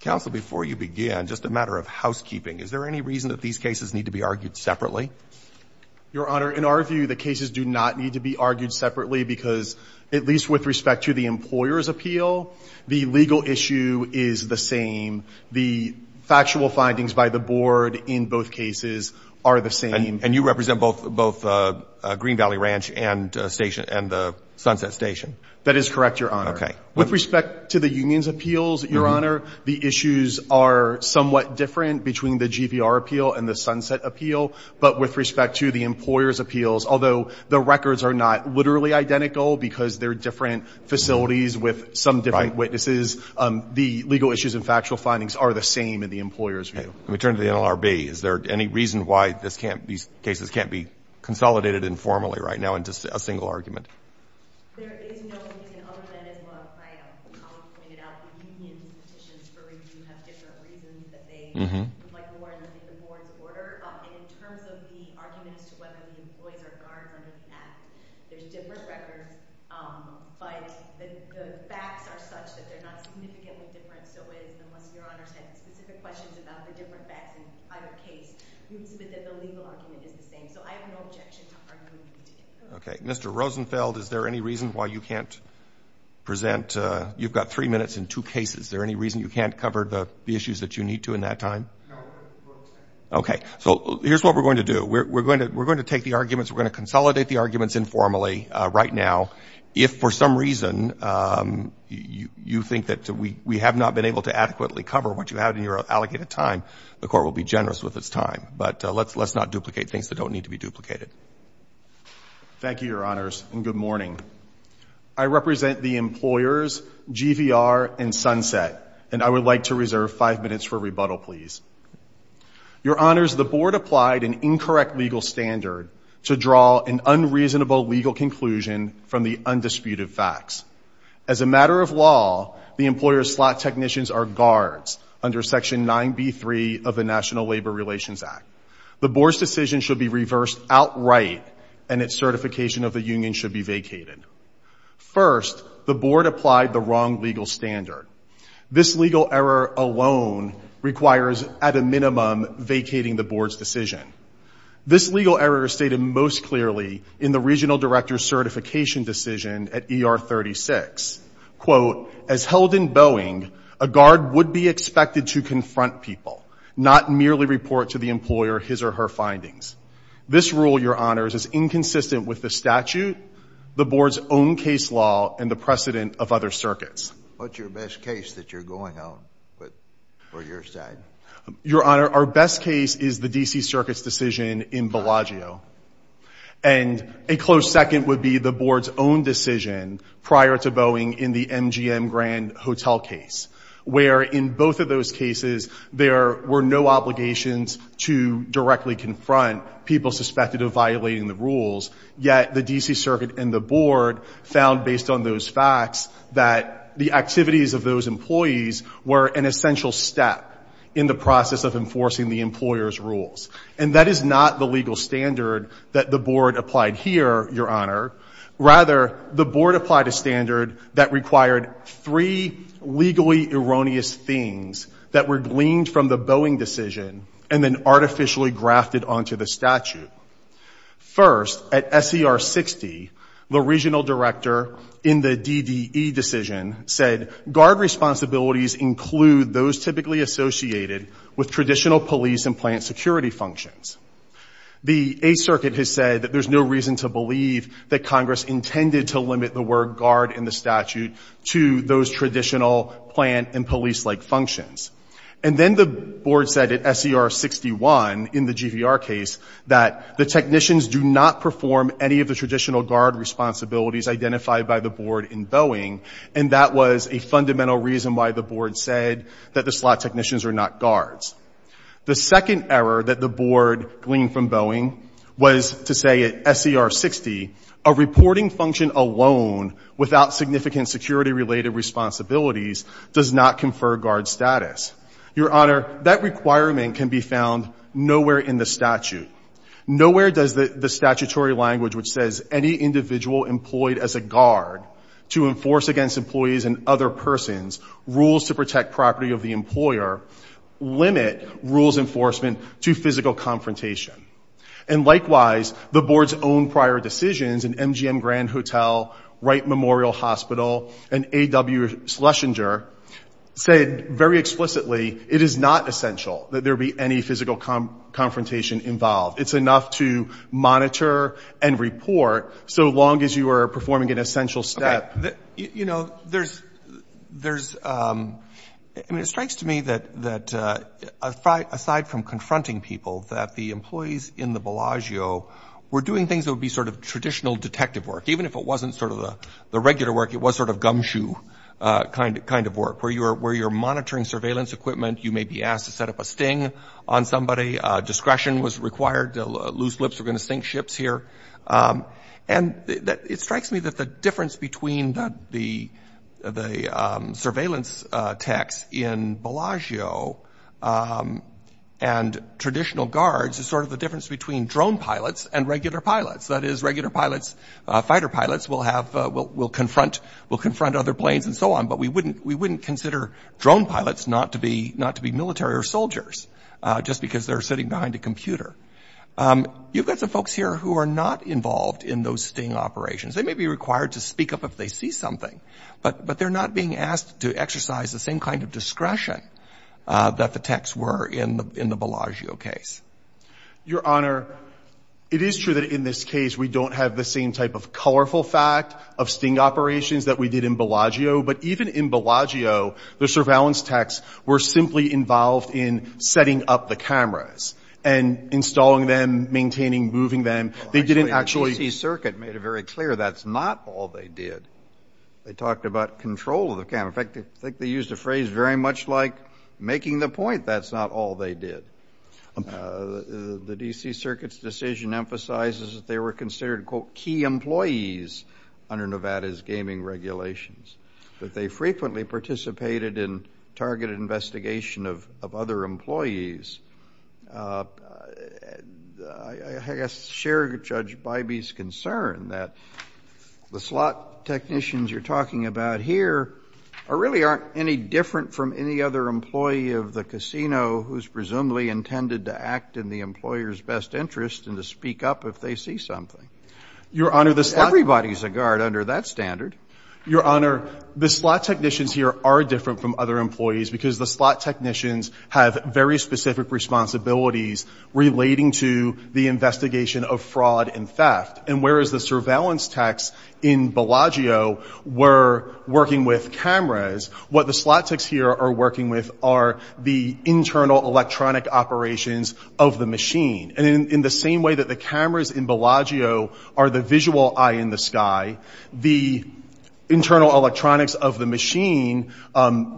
Council, before you begin, just a matter of housekeeping. Is there any reason that these cases need to be argued separately? Your Honor, in our view, the cases do not need to be argued separately because, at least with respect to the employer's appeal, the legal issue is the same. The factual findings by the board in both cases are the same. And you represent both Green Valley Ranch and the Sunset Station? That is correct, Your Honor. With respect to the union's appeals, Your Honor, the issues are somewhat different between the GVR appeal and the Sunset appeal. But with respect to the employer's appeals, although the records are not literally identical because they're different facilities with some different witnesses, the legal issues and factual findings are the same in the employer's view. Let me turn to the NLRB. Is there any reason why these cases can't be consolidated informally right now into a single argument? Okay. Mr. Rosenfeld, is there any reason why you can't present? You've got three minutes in two cases. Is there any reason you can't cover the issues that you need to in that time? Okay. So here's what we're going to do. We're going to take the arguments. We're going to consolidate the arguments informally right now. If for some reason you think that we have not been able to adequately cover what you have in your allocated time, the Court will be generous with its time. But let's not duplicate things that don't need to be duplicated. Thank you, Your Honors, and good morning. I represent the employers, GVR and Sunset, and I would like to reserve five minutes for rebuttal, please. Your Honors, the Board applied an incorrect legal standard to draw an unreasonable legal conclusion from the undisputed facts. As a matter of law, the employer's slot technicians are guards under Section 9B.3 of the National Labor Relations Act. The Board's decision should be reversed outright, and its certification of the union should be vacated. First, the Board applied the wrong legal standard. This legal error alone requires at a minimum vacating the Board's decision. This legal error is stated most clearly in the Regional Director's Certification Decision at ER 36. Quote, as held in Boeing, a guard would be expected to confront people, not merely report to the employer his or her findings. This rule, Your Honors, is inconsistent with the statute, the Board's own case law, and the precedent of other circuits. What's your best case that you're going on, for your side? Your Honor, our best case is the D.C. Circuit's decision in Bellagio, and a close second would be the Board's own decision prior to Boeing in the MGM Grand Hotel case, where in both of those cases, there were no obligations to directly confront people suspected of violating the rules. Yet, the D.C. Circuit and the Board found, based on those facts, that the activities of those employees were an essential step in the process of enforcing the employer's rules. And that is not the legal standard that the Board applied here, Your Honor. Rather, the responsibilities that were gleaned from the Boeing decision and then artificially grafted onto the statute. First, at S.E.R. 60, the regional director in the D.D.E. decision said, guard responsibilities include those typically associated with traditional police and plant security functions. The Eighth Circuit has said that there's no reason to believe that Congress intended to limit the word guard in the statute to those traditional plant and police-like functions. And then the Board said at S.E.R. 61 in the GVR case that the technicians do not perform any of the traditional guard responsibilities identified by the Board in Boeing, and that was a fundamental reason why the Board said that the slot technicians are not guards. The second error that the Board gleaned from Boeing was to say at S.E.R. 60, a reporting Your Honor, that requirement can be found nowhere in the statute. Nowhere does the statutory language which says any individual employed as a guard to enforce against employees and other persons rules to protect property of the employer limit rules enforcement to physical confrontation. And likewise, the Board's own prior decisions in MGM Grand Hotel, Wright Memorial Hospital, and A.W. Schlesinger said very explicitly, it is not essential that there be any physical confrontation involved. It's enough to monitor and report so long as you are performing an essential step. You know, there's, I mean it strikes to me that aside from confronting people that the employees in the Bellagio were doing things that would be sort of traditional detective work, even if it wasn't sort of the regular work, it was sort of gumshoe kind of work where you're monitoring surveillance equipment, you may be asked to set up a sting on somebody, discretion was required, loose lips were going to sink ships here. And it strikes me that the difference between the surveillance techs in Bellagio and traditional guards is sort of the difference between drone pilots and regular pilots, that is regular pilots, fighter pilots will have, will confront other planes and so on, but we wouldn't consider drone pilots not to be military or soldiers just because they're sitting behind a computer. You've got some folks here who are not involved in those sting operations. They may be required to speak up if they see something, but they're not being asked to exercise the same kind of discretion that the techs were in the Bellagio case. Your Honor, it is true that in this case we don't have the same type of colorful fact of sting operations that we did in Bellagio, but even in Bellagio, the surveillance techs were simply involved in setting up the cameras and installing them, maintaining, moving them. They didn't actually The DC Circuit made it very clear that's not all they did. They talked about control of the camera. In fact, I think they used a phrase very much like making the point that's not all they did. The DC Circuit's decision emphasizes that they were considered, quote, key employees under Nevada's gaming regulations, that they frequently participated in targeted investigation of other employees. I guess share Judge Bybee's concern that the slot technicians you're talking about here really aren't any different from any other employee of the casino who's presumably intended to act in the employer's best interest and to speak up if they see something. Your Honor, the slot Everybody's a guard under that standard. Your Honor, the slot technicians here are different from other employees because the slot technicians have very specific responsibilities relating to the investigation of fraud and theft, and whereas the surveillance techs in Bellagio were working with cameras, what the slot techs here are working with are the internal electronic operations of the machine, and in the same way that the cameras in Bellagio are the visual eye in the sky, the internal electronics of the machine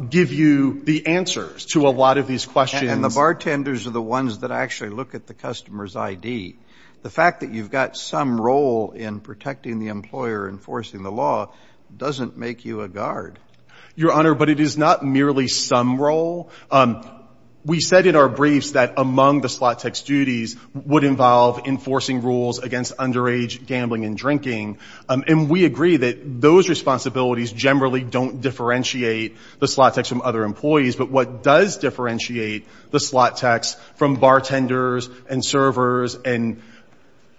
give you the answers to a lot of these questions. And the bartenders are the ones that actually look at the customer's ID. The fact that you've got some role in protecting the employer, enforcing the law, doesn't make you a guard. Your Honor, but it is not merely some role. We said in our briefs that among the slot tech's duties would involve enforcing rules against underage gambling and drinking, and we agree that those responsibilities generally don't differentiate the slot techs from other employees, but what does differentiate the slot techs from bartenders and servers and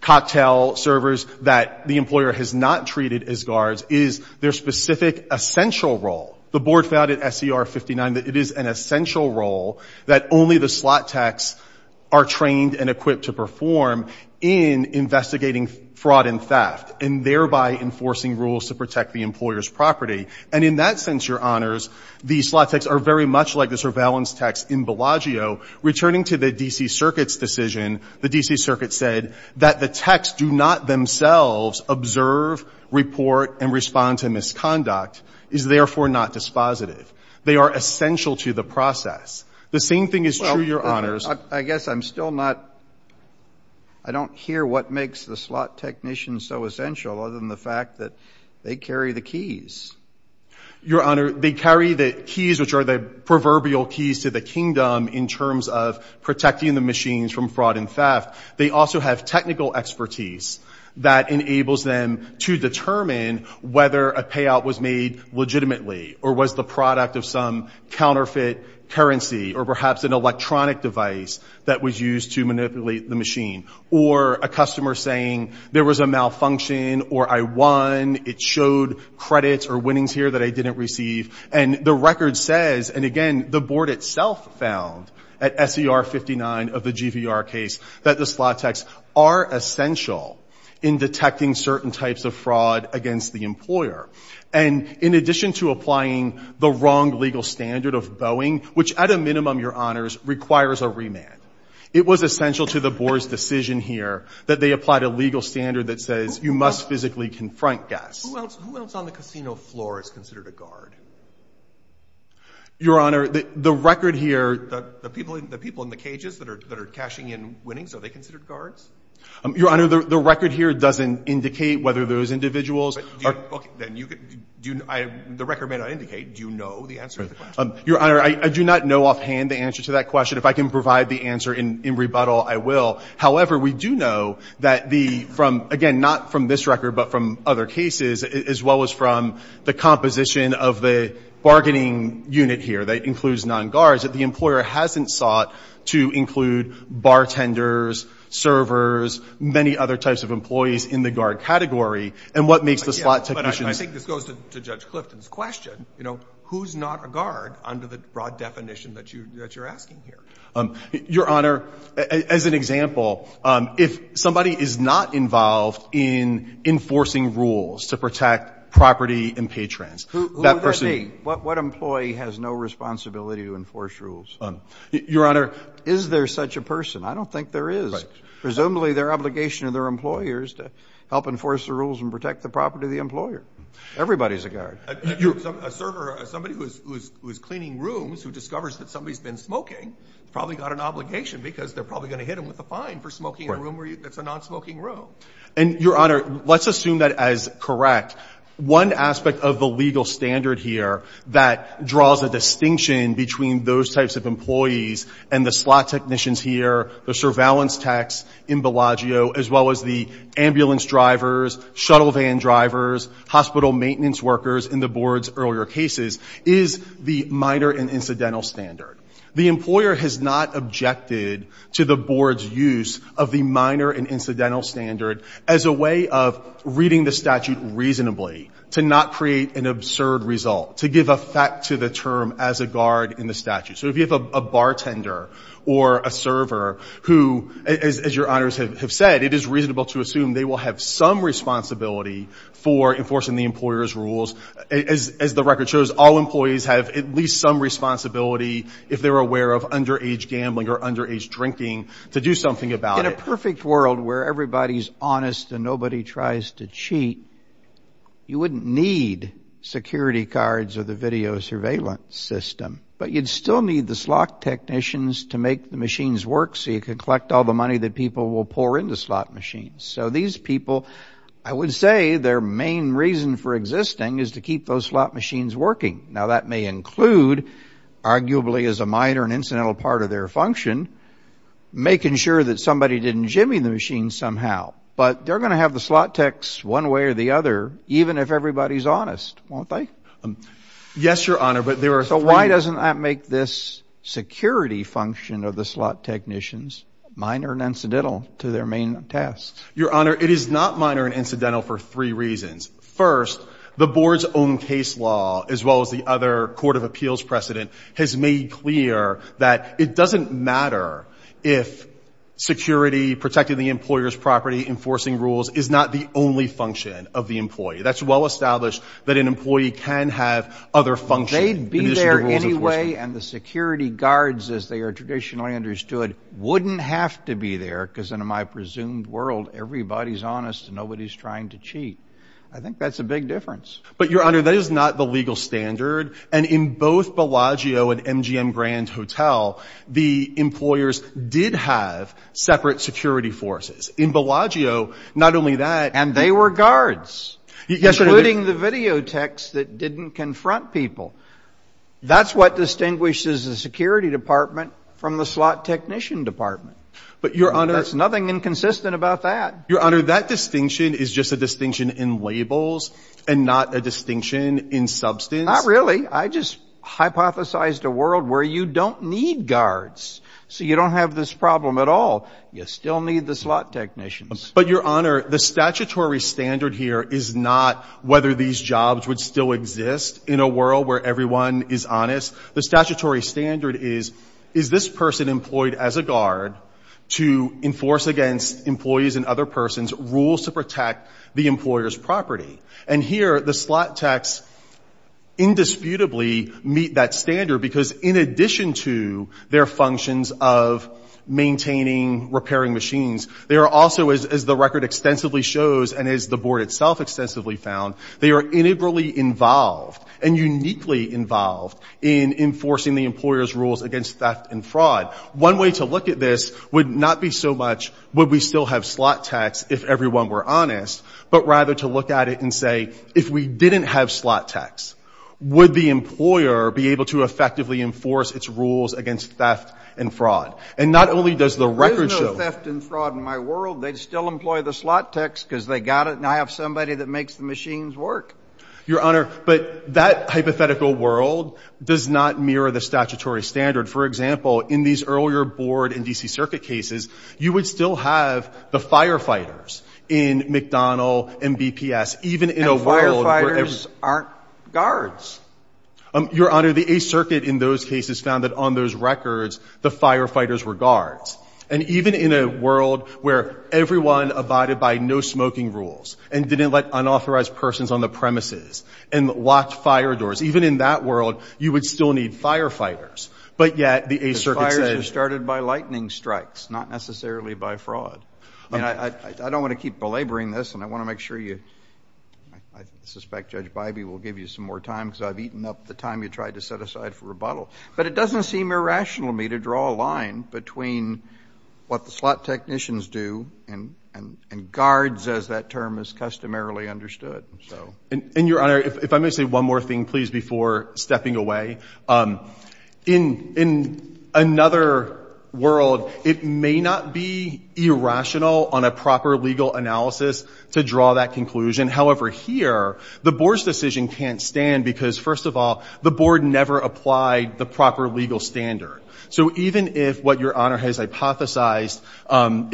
cocktail servers that the employer has not treated as guards is their specific essential role. The board found at SCR 59 that it is an essential role that only the slot techs are trained and equipped to perform in investigating fraud and theft, and thereby enforcing rules to protect the employer's property. And in that sense, Your Honors, the slot techs are very much like the surveillance techs in Bellagio. Returning to the D.C. Circuit's decision, the D.C. Circuit said that the techs do not themselves observe, report, and respond to fraud and theft, and therefore not dispositive. They are essential to the process. The same thing is true, Your Honors. I guess I'm still not, I don't hear what makes the slot technicians so essential other than the fact that they carry the keys. Your Honor, they carry the keys, which are the proverbial keys to the kingdom in terms of protecting the machines from fraud and theft. They also have technical expertise that enables them to determine whether a payout was made legitimately, or was the product of some counterfeit currency, or perhaps an electronic device that was used to manipulate the machine. Or a customer saying, there was a malfunction, or I won, it showed credits or winnings here that I didn't receive. And the record says, and again, the board itself found, at S.E.R. 59 of the GVR case, that the slot techs are essential in detecting certain types of fraud against the employer. And in addition to applying the wrong legal standard of bowing, which at a minimum, Your Honors, requires a remand, it was essential to the board's decision here that they applied a legal standard that says you must physically confront guests. Who else, who else on the casino floor is considered a guard? Your Honor, the record here The people in the cages that are cashing in winnings, are they considered guards? Your Honor, the record here doesn't indicate whether those individuals Okay, then, the record may not indicate, do you know the answer to the question? Your Honor, I do not know offhand the answer to that question. If I can provide the answer in rebuttal, I will. However, we do know that the, from, again, not from this record, but from other cases, as well as from the composition of the bargaining unit here that includes non-guards, that the employer hasn't sought to include bartenders, servers, many other types of employees in the guard category, and what makes the slot technicians I think this goes to Judge Clifton's question, you know, who's not a guard under the broad definition that you're asking here? Your Honor, as an example, if somebody is not involved in enforcing rules to protect property and patrons, that person Who would that be? What employee has no responsibility to enforce rules? Your Honor Is there such a person? I don't think there is. Presumably their obligation to their employer is to help enforce the rules and protect the property of the employer. Everybody's a guard. A server, somebody who is cleaning rooms who discovers that somebody's been smoking probably got an obligation because they're probably going to hit them with a fine for smoking in a room that's a non-smoking room. And, Your Honor, let's assume that as correct. One aspect of the legal standard here that draws a distinction between those types of employees and the slot technicians here, the surveillance techs in Bellagio, as well as the ambulance drivers, shuttle van drivers, hospital maintenance workers in the Board's earlier cases, is the minor and incidental standard. The employer has not objected to the Board's use of the minor and incidental standard as a way of reading the statute reasonably, to not create an absurd result, to give effect to the term as a guard in the statute. So if you have a bartender or a server who, as Your Honors have said, it is reasonable to assume they will have some responsibility for enforcing the employer's rules. As the record shows, all employees have at least some responsibility if they're aware of underage gambling or underage drinking to do something about it. In a perfect world where everybody's honest and nobody tries to cheat, you wouldn't need security cards or the video surveillance system, but you'd still need the slot technicians to make the machines work so you could collect all the money that people will pour into slot machines. So these people, I would say their main reason for existing is to keep those slot machines working. Now, that may include, arguably as a minor and incidental part of their function, making sure that somebody didn't jimmy the machines somehow. But they're going to have the slot techs one way or the other, even if everybody's honest, won't they? Yes, Your Honor, but there are three... Your Honor, it is not minor and incidental for three reasons. First, the board's own case law, as well as the other court of appeals precedent, has made clear that it doesn't matter if security, protecting the employer's property, enforcing rules, is not the only function of the employee. That's well established that an employee can have other functions. They'd be there anyway, and the security guards, as they are traditionally understood, wouldn't have to be there, because in my presumed world, everybody's honest and nobody's trying to cheat. I think that's a big difference. But, Your Honor, that is not the legal standard, and in both Bellagio and MGM Grand Hotel, the employers did have separate security forces. In Bellagio, not only that... And they were guards, including the video techs that didn't confront people. That's what distinguishes the security department from the slot technician department. But, Your Honor... There's nothing inconsistent about that. Your Honor, that distinction is just a distinction in labels and not a distinction in substance. Not really. I just hypothesized a world where you don't need guards, so you don't have this problem at all. You still need the slot technicians. But, Your Honor, the statutory standard here is not whether these jobs would still exist in a world where everyone is honest. The statutory standard is, is this person employed as a guard to enforce against employees and other persons rules to protect the employer's property? And here, the slot techs indisputably meet that standard, because in addition to their functions of maintaining, repairing machines, they are also, as the record extensively shows, and as the board itself extensively found, they are integrally involved and uniquely involved in enforcing the employer's rules against theft and fraud. One way to look at this would not be so much, would we still have slot techs if everyone were honest, but rather to look at it and say, if we didn't have slot techs, would the employer be able to effectively enforce its rules against theft and fraud? And not only does the record show... There is no theft and fraud in my world. They'd still employ the slot techs because they got it, and I have somebody that makes the machines work. Your Honor, but that hypothetical world does not mirror the statutory standard. For example, in these earlier board and D.C. Circuit cases, you would still have the firefighters in McDonald and BPS, even in a world where... And firefighters aren't guards. Your Honor, the Eighth Circuit in those cases found that on those records, the firefighters were guards. And even in a world where everyone abided by no-smoking rules and didn't let unauthorized persons on the premises and locked fire doors, even in that world, you would still need firefighters. But yet the Eighth Circuit says... The fires were started by lightning strikes, not necessarily by fraud. I don't want to keep belaboring this, and I want to make sure you... I suspect Judge Bybee will give you some more time because I've eaten up the time you tried to set aside for rebuttal. But it doesn't seem irrational to me to draw a line between what the slot technicians do and guards, as that term is customarily understood. And, Your Honor, if I may say one more thing, please, before stepping away. In another world, it may not be irrational on a proper legal analysis to draw that conclusion. However, here, the board's decision can't stand because, first of all, the board never applied the proper legal standard. So even if what Your Honor has hypothesized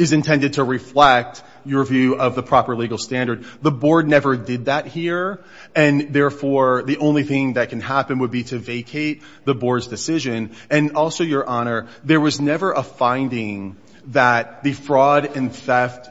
is intended to reflect your view of the proper legal standard, the board never did that here. And, therefore, the only thing that can happen would be to vacate the board's decision. And also, Your Honor, there was never a finding that the fraud and theft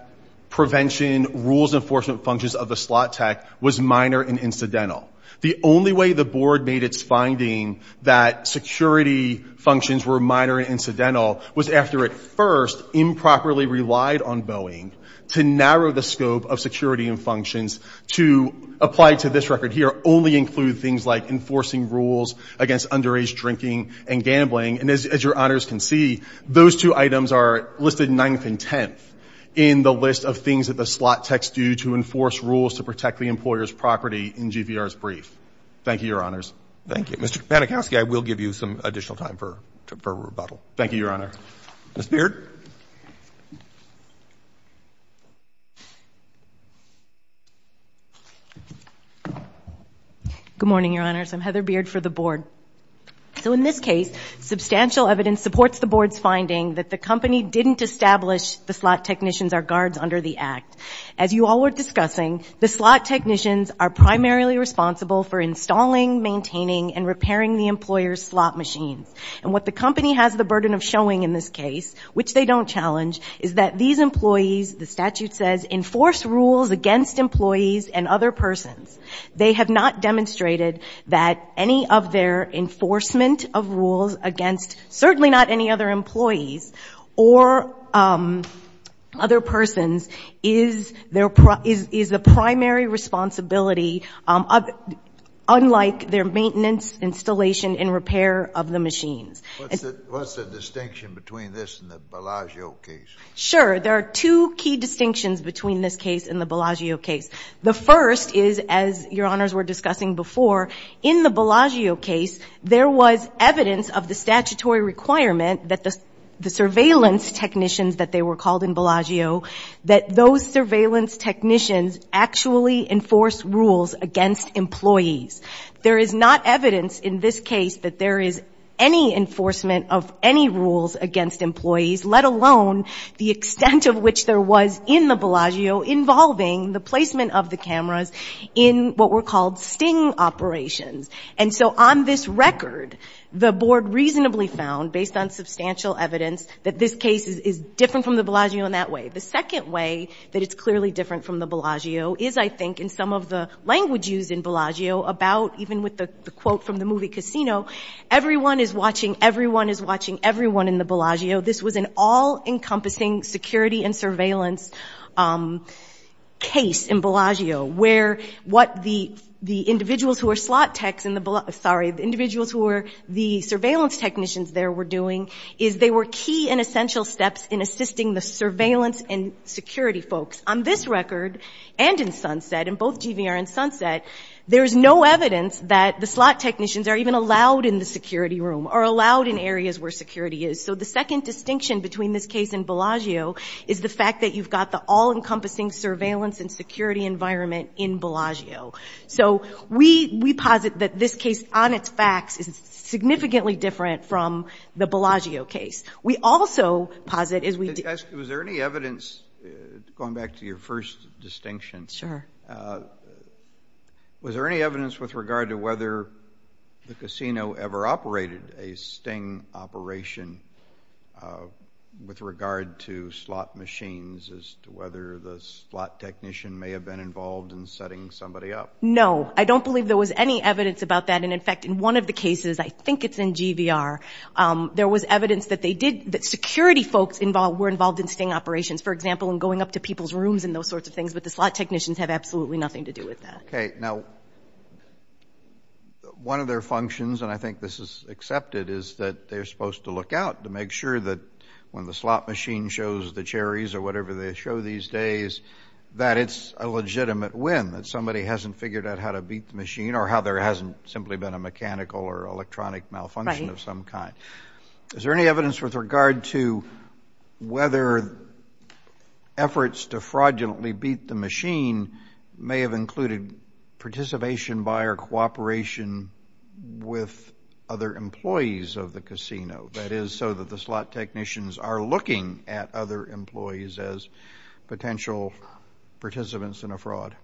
prevention, rules enforcement functions of the slot tech was minor and incidental. The only way the board made its finding that security functions were minor and incidental was after it first improperly relied on Boeing to narrow the scope of security and functions to apply to this record here only include things like enforcing rules against underage drinking and gambling. And as Your Honors can see, those two items are listed ninth and tenth in the list of things that the slot techs do to enforce rules to protect the employer's property in GVR's brief. Thank you, Your Honors. Thank you. Mr. Kapanikowski, I will give you some additional time for rebuttal. Thank you, Your Honor. Ms. Beard. Good morning, Your Honors. I'm Heather Beard for the board. So in this case, substantial evidence supports the board's finding that the company didn't establish the slot technicians are guards under the act. As you all were discussing, the slot technicians are primarily responsible for installing, maintaining, and repairing the employer's slot machines. And what the company has the burden of showing in this case, which they don't challenge, is that these employees, the statute says, enforce rules against employees and other persons. They have not demonstrated that any of their enforcement of rules against certainly not any other employees or other persons is the primary responsibility, unlike their maintenance, installation, and repair of the machines. What's the distinction between this and the Bellagio case? Sure. There are two key distinctions between this case and the Bellagio case. The first is, as Your Honors were discussing before, in the Bellagio case, there was evidence of the statutory requirement that the surveillance technicians that they were called in Bellagio, that those surveillance technicians actually enforce rules against employees. There is not evidence in this case that there is any enforcement of any rules against employees, let alone the extent of which there was in the Bellagio involving the placement of the cameras in what were called sting operations. And so on this record, the Board reasonably found, based on substantial evidence, that this case is different from the Bellagio in that way. The second way that it's clearly different from the Bellagio is, I think, in some of the language used in Bellagio about, even with the quote from the movie Casino, everyone is watching everyone is watching everyone in the Bellagio. This was an all-encompassing security and surveillance case in Bellagio, where what the individuals who were slot techs in the Bellagio, sorry, the individuals who were the surveillance technicians there were doing, is they were key and essential steps in assisting the surveillance and security folks. On this record, and in Sunset, in both GVR and Sunset, there is no evidence that the slot technicians are even allowed in the security room, or allowed in areas where security is. So the second distinction between this case and Bellagio is the fact that you've got the all-encompassing surveillance and security environment in Bellagio. So we posit that this case, on its facts, is significantly different from the Bellagio case. We also posit, as we did— Was there any evidence, going back to your first distinction, was there any evidence with regard to whether the casino ever operated a sting operation with regard to slot machines, as to whether the slot technician may have been involved in setting somebody up? No. I don't believe there was any evidence about that. In fact, in one of the cases, I think it's in GVR, there was evidence that security folks were involved in sting operations. For example, in going up to people's rooms and those sorts of things. But the slot technicians have absolutely nothing to do with that. Okay. Now, one of their functions, and I think this is accepted, is that they're supposed to look out to make sure that when the slot machine shows the cherries or whatever they show these days, that it's a legitimate win, that somebody hasn't figured out how to beat the machine, or how there hasn't simply been a mechanical or electronic malfunction of some kind. Is there any evidence with regard to whether efforts to fraudulently beat the machine may have included participation by or cooperation with other employees of the casino? That is, so that the slot technicians are looking at other employees as potential participants in a fraud.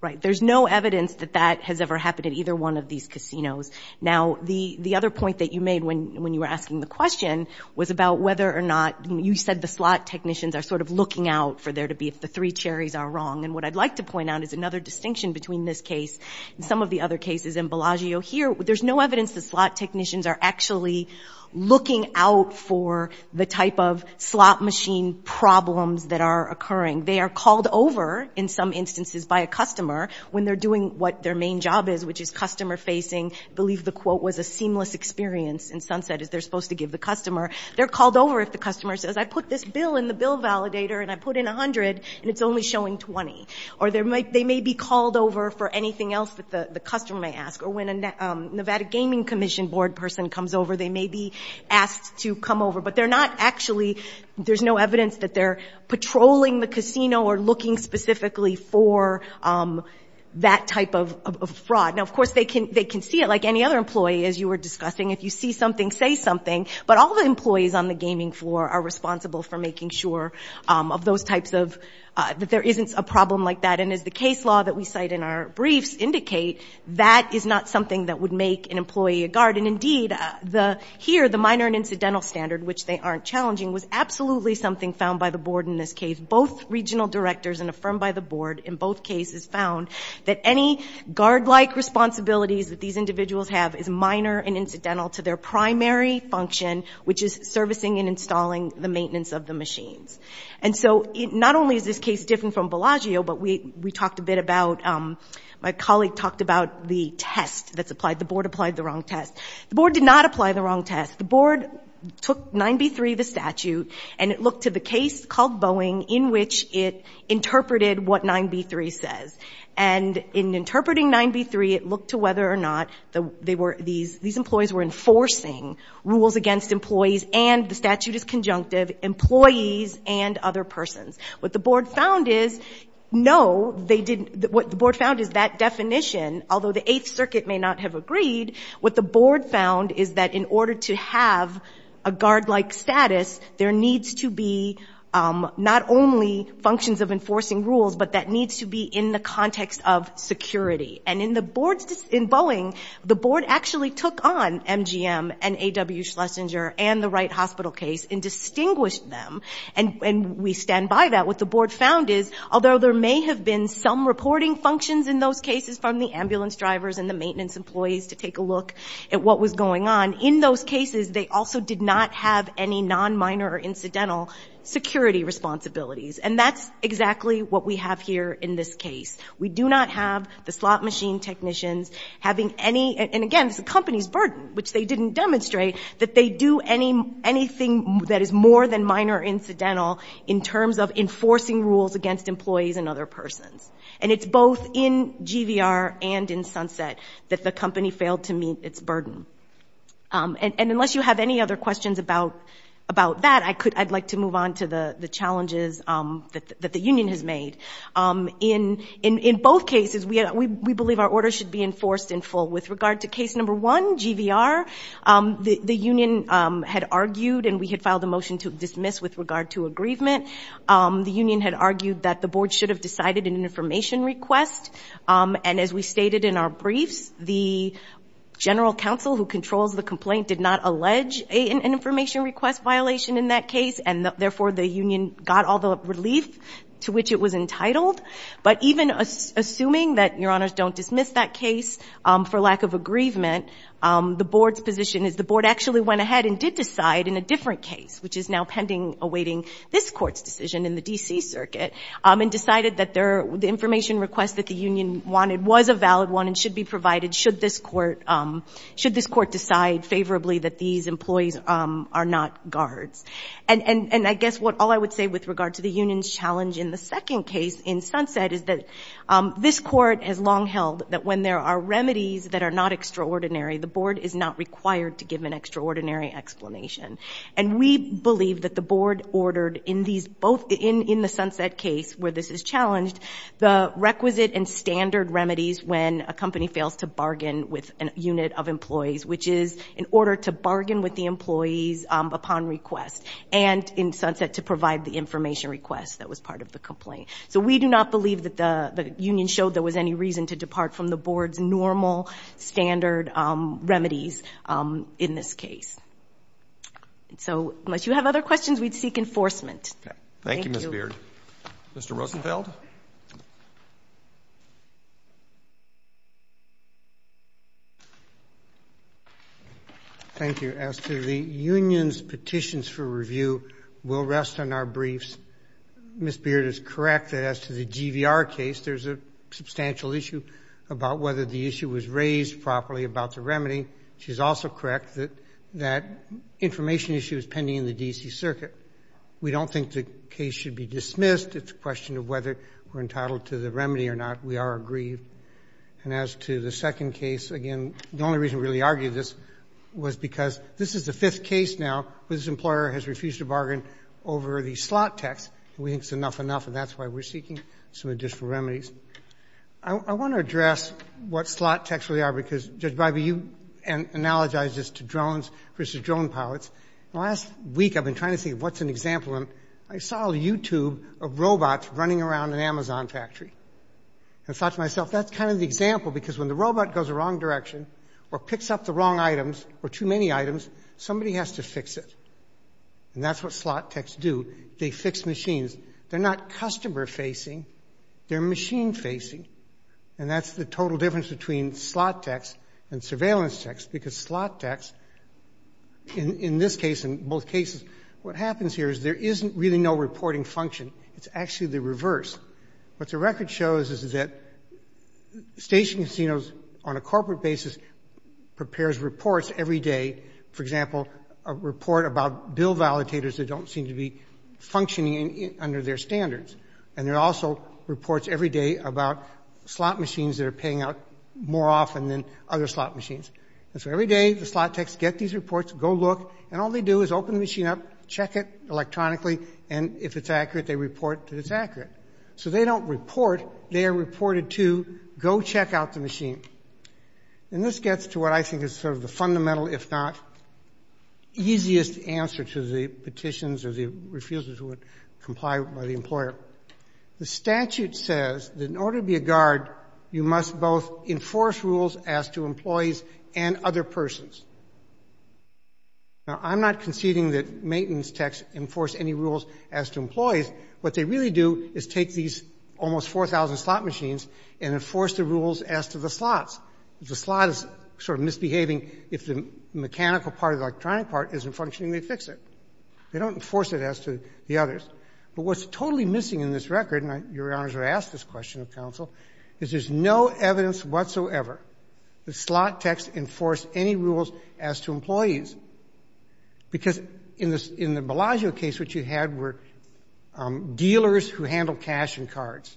Right. There's no evidence that that has ever happened in either one of these casinos. Now, the other point that you made when you were asking the question was about whether or not, you said the slot technicians are sort of looking out for there to be if the three cherries are wrong. And what I'd like to point out is another distinction between this case and some of the other cases. In Bellagio here, there's no evidence that slot technicians are actually looking out for the type of slot machine problems that are occurring. They are called over in some instances by a customer when they're doing what their main job is, which is customer facing. I believe the quote was a seamless experience in Sunset, as they're supposed to give the customer. They're called over if the customer says, I put this bill in the bill validator, and I put in $100, and it's only showing $20. Or they may be called over for anything else that the customer may ask. Or when a Nevada Gaming Commission board person comes over, they may be asked to come over. But they're not actually, there's no evidence that they're patrolling the casino or looking specifically for that type of fraud. Now, of course, they can see it, like any other employee, as you were discussing. If you see something, say something. But all the employees on the gaming floor are responsible for making sure of those types of, that there isn't a problem like that. And as the case law that we cite in our briefs indicate, that is not something that would make an employee a guard. And indeed, here, the minor and incidental standard, which they aren't challenging, was absolutely something found by the board in this case. Both regional directors and a firm by the board in both cases found that any guard-like responsibilities that these individuals have is minor and incidental to their primary function, which is servicing and installing the maintenance of the machines. And so not only is this case different from Bellagio, but we talked a bit about, my colleague talked about the test that's applied. The board applied the wrong test. The board did not apply the wrong test. The board took 9b-3, the statute, and it looked to the case called Boeing, in which it interpreted what 9b-3 says. And in interpreting 9b-3, it looked to whether or not these employees were enforcing rules against employees, and the statute is conjunctive, employees and other persons. What the board found is, no, they didn't. What the board found is that definition, although the Eighth Circuit may not have agreed, what the board found is that in order to have a guard-like status, there needs to be not only functions of enforcing rules, but that needs to be in the context of security. And in Boeing, the board actually took on MGM and A.W. Schlesinger and the Wright Hospital case and distinguished them, and we stand by that. What the board found is, although there may have been some reporting functions in those cases from the ambulance drivers and the maintenance employees to take a look at what was going on, in those cases they also did not have any non-minor incidental security responsibilities. And that's exactly what we have here in this case. We do not have the slot machine technicians having any, and again, it's the company's burden, which they didn't demonstrate, that they do anything that is more than minor incidental in terms of enforcing rules against employees and other persons. And it's both in GVR and in Sunset that the company failed to meet its burden. And unless you have any other questions about that, I'd like to move on to the challenges that the union has made. In both cases, we believe our orders should be enforced in full. With regard to case number one, GVR, the union had argued and we had filed a motion to dismiss with regard to aggrievement. The union had argued that the board should have decided in an information request, and as we stated in our briefs, the general counsel who controls the complaint did not allege an information request violation in that case, and therefore the union got all the relief to which it was entitled. But even assuming that, Your Honors, don't dismiss that case for lack of aggrievement, the board's position is the board actually went ahead and did decide in a different case, which is now pending awaiting this Court's decision in the D.C. Circuit, and decided that the information request that the union wanted was a valid one and should be provided should this Court decide favorably that these employees are not guards. And I guess all I would say with regard to the union's challenge in the second case in Sunset is that this Court has long held that when there are remedies that are not extraordinary, the board is not required to give an extraordinary explanation. And we believe that the board ordered in the Sunset case where this is challenged, the requisite and standard remedies when a company fails to bargain with a unit of employees, which is in order to bargain with the employees upon request, and in Sunset to provide the information request that was part of the complaint. So we do not believe that the union showed there was any reason to depart from the board's normal, standard remedies in this case. So unless you have other questions, we'd seek enforcement. Thank you, Ms. Beard. Mr. Rosenfeld? Thank you. As to the union's petitions for review, we'll rest on our briefs. Ms. Beard is correct that as to the GVR case, there's a substantial issue about whether the issue was raised properly about the remedy. She's also correct that that information issue is pending in the D.C. Circuit. We don't think the case should be dismissed. It's a question of whether we're entitled to the remedy or not. We are aggrieved. And as to the second case, again, the only reason we really argued this was because this is the fifth case now where this employer has refused to bargain over the slot tax. We think it's enough, enough, and that's why we're seeking some additional remedies. I want to address what slot tax really are because, Judge Bybee, you analogized this to drones versus drone pilots. Last week I've been trying to think of what's an example, and I saw a YouTube of robots running around an Amazon factory. I thought to myself, that's kind of the example because when the robot goes the wrong direction or picks up the wrong items or too many items, somebody has to fix it. And that's what slot tax do. They fix machines. They're not customer facing. They're machine facing. And that's the total difference between slot tax and surveillance tax because slot tax, in this case and both cases, what happens here is there isn't really no reporting function. It's actually the reverse. What the record shows is that station casinos on a corporate basis prepares reports every day. For example, a report about bill validators that don't seem to be functioning under their standards. And there are also reports every day about slot machines that are paying out more often than other slot machines. And so every day the slot tax get these reports, go look, and all they do is open the machine up, check it electronically, and if it's accurate, they report that it's accurate. So they don't report. They are reported to go check out the machine. And this gets to what I think is sort of the fundamental, if not easiest, answer to the petitions or the refusal to comply by the employer. The statute says that in order to be a guard, you must both enforce rules as to employees and other persons. Now, I'm not conceding that maintenance tax enforce any rules as to employees. What they really do is take these almost 4,000 slot machines and enforce the rules as to the slots. If the slot is sort of misbehaving, if the mechanical part or the electronic part isn't functioning, they fix it. They don't enforce it as to the others. But what's totally missing in this record, and your honors are asked this question of counsel, is there's no evidence whatsoever that slot tax enforced any rules as to employees. Because in the Bellagio case, what you had were dealers who handled cash and cards.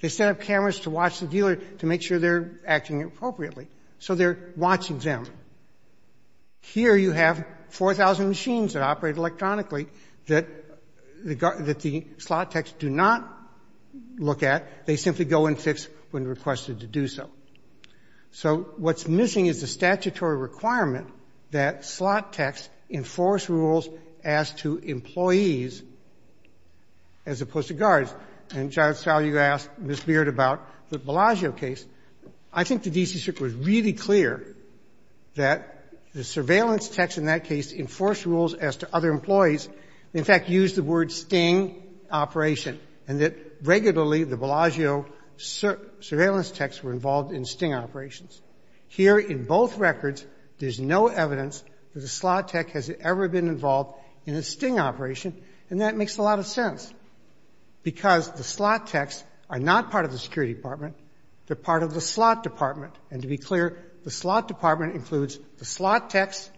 They set up cameras to watch the dealer to make sure they're acting appropriately. So they're watching them. Here you have 4,000 machines that operate electronically that the slot tax do not look at. They simply go and fix when requested to do so. So what's missing is the statutory requirement that slot tax enforce rules as to employees as opposed to guards. And, Judge Fowler, you asked Ms. Beard about the Bellagio case. I think the D.C. Circuit was really clear that the surveillance tax in that case enforced rules as to other employees. In fact, used the word sting operation. And that regularly the Bellagio surveillance tax were involved in sting operations. Here in both records, there's no evidence that a slot tax has ever been involved in a sting operation. And that makes a lot of sense. Because the slot tax are not part of the security department. They're part of the slot department. And to be clear, the slot department includes the slot tax,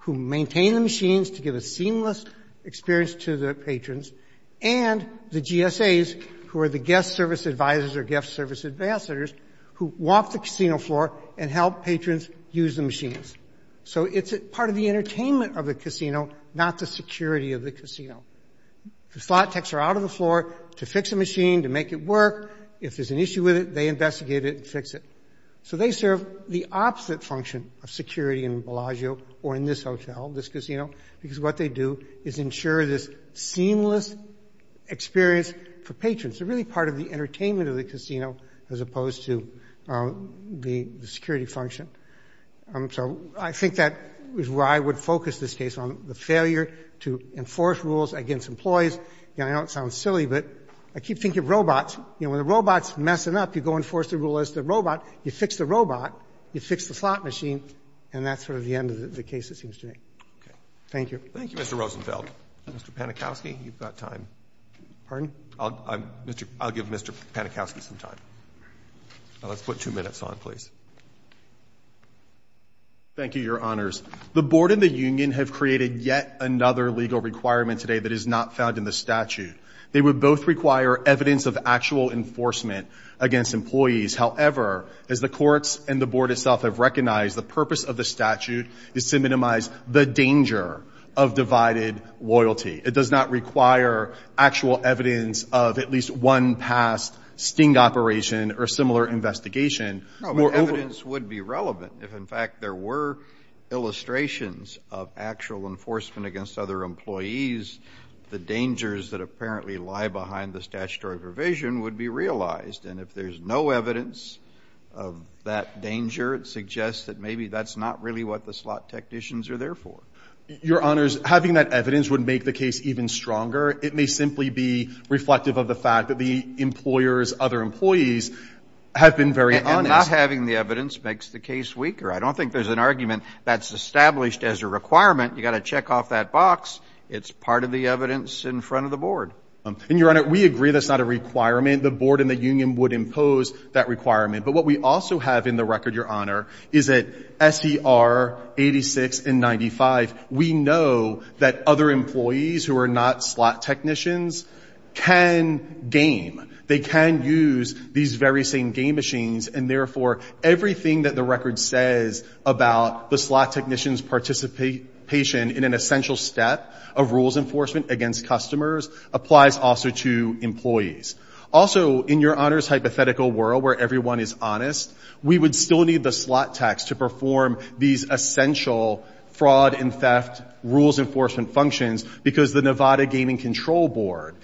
who maintain the machines to give a seamless experience to the patrons, and the GSAs, who are the guest service advisors or guest service ambassadors, who walk the casino floor and help patrons use the machines. So it's part of the entertainment of the casino, not the security of the casino. The slot tax are out of the floor to fix a machine, to make it work. If there's an issue with it, they investigate it and fix it. So they serve the opposite function of security in Bellagio or in this hotel, this casino, because what they do is ensure this seamless experience for patrons. They're really part of the entertainment of the casino as opposed to the security function. So I think that is where I would focus this case on, the failure to enforce rules against employees. And I know it sounds silly, but I keep thinking of robots. You know, when the robot's messing up, you go enforce the rule as the robot. You fix the robot. You fix the slot machine. And that's sort of the end of the case, it seems to me. Thank you. Thank you, Mr. Rosenfeld. Mr. Panikowski, you've got time. Pardon? I'll give Mr. Panikowski some time. Let's put two minutes on, please. Thank you, Your Honors. The board and the union have created yet another legal requirement today that is not found in the statute. They would both require evidence of actual enforcement against employees. However, as the courts and the board itself have recognized, the purpose of the statute is to minimize the danger of divided loyalty. It does not require actual evidence of at least one past sting operation or similar investigation. No, but evidence would be relevant. If, in fact, there were illustrations of actual enforcement against other employees, the dangers that apparently lie behind the statutory provision would be realized. And if there's no evidence of that danger, it suggests that maybe that's not really what the slot technicians are there for. Your Honors, having that evidence would make the case even stronger. It may simply be reflective of the fact that the employer's other employees have been very honest. And not having the evidence makes the case weaker. I don't think there's an argument that's established as a requirement. You've got to check off that box. It's part of the evidence in front of the board. And, Your Honor, we agree that's not a requirement. The board and the union would impose that requirement. But what we also have in the record, Your Honor, is that S.E.R. 86 and 95, we know that other employees who are not slot technicians can game. They can use these very same game machines. And, therefore, everything that the record says about the slot technicians' participation in an essential step of rules enforcement against customers applies also to employees. Also, in Your Honors' hypothetical world where everyone is honest, we would still need the slot techs to perform these essential fraud and theft rules enforcement functions because the Nevada Gaming Control Board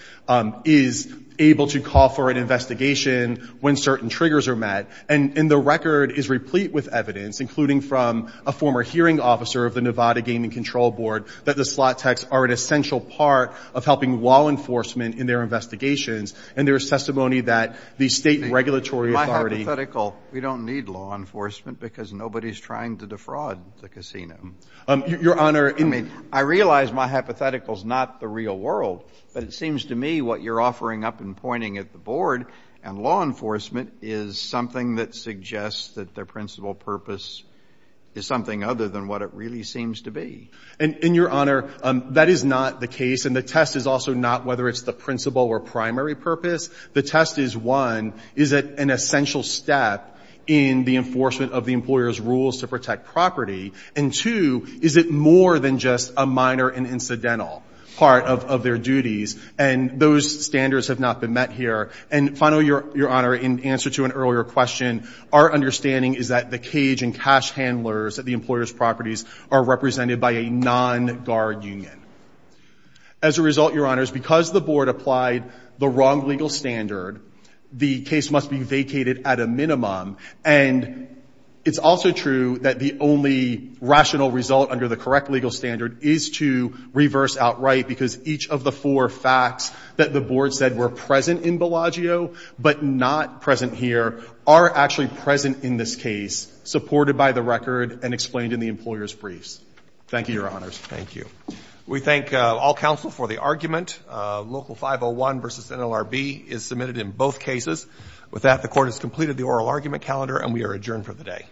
is able to call for an investigation when certain triggers are met. And the record is replete with evidence, including from a former hearing officer of the Nevada Gaming Control Board, that the slot techs are an essential part of helping law enforcement in their investigations. And there is testimony that the state regulatory authority hypothetical, we don't need law enforcement because nobody is trying to defraud the casino. Your Honor, I mean, I realize my hypothetical is not the real world, but it seems to me what you're offering up and pointing at the board and law enforcement is something that suggests that their principal purpose is something other than what it really seems to be. And, Your Honor, that is not the case. And the test is also not whether it's the principal or primary purpose. The test is, one, is it an essential step in the enforcement of the employer's rules to protect property? And, two, is it more than just a minor and incidental part of their duties? And those standards have not been met here. And finally, Your Honor, in answer to an earlier question, our understanding is that the cage and cash handlers at the employer's properties are represented by a non-guard union. As a result, Your Honors, because the board applied the wrong legal standard, the case must be vacated at a minimum. And it's also true that the only rational result under the correct legal standard is to reverse outright because each of the four facts that the board said were present in Bellagio but not present here are actually present in this case, supported by the record and explained in the employer's briefs. Thank you, Your Honors. Thank you. We thank all counsel for the argument. Local 501 v. NLRB is submitted in both cases. With that, the court has completed the oral argument calendar, and we are adjourned for the day. All rise.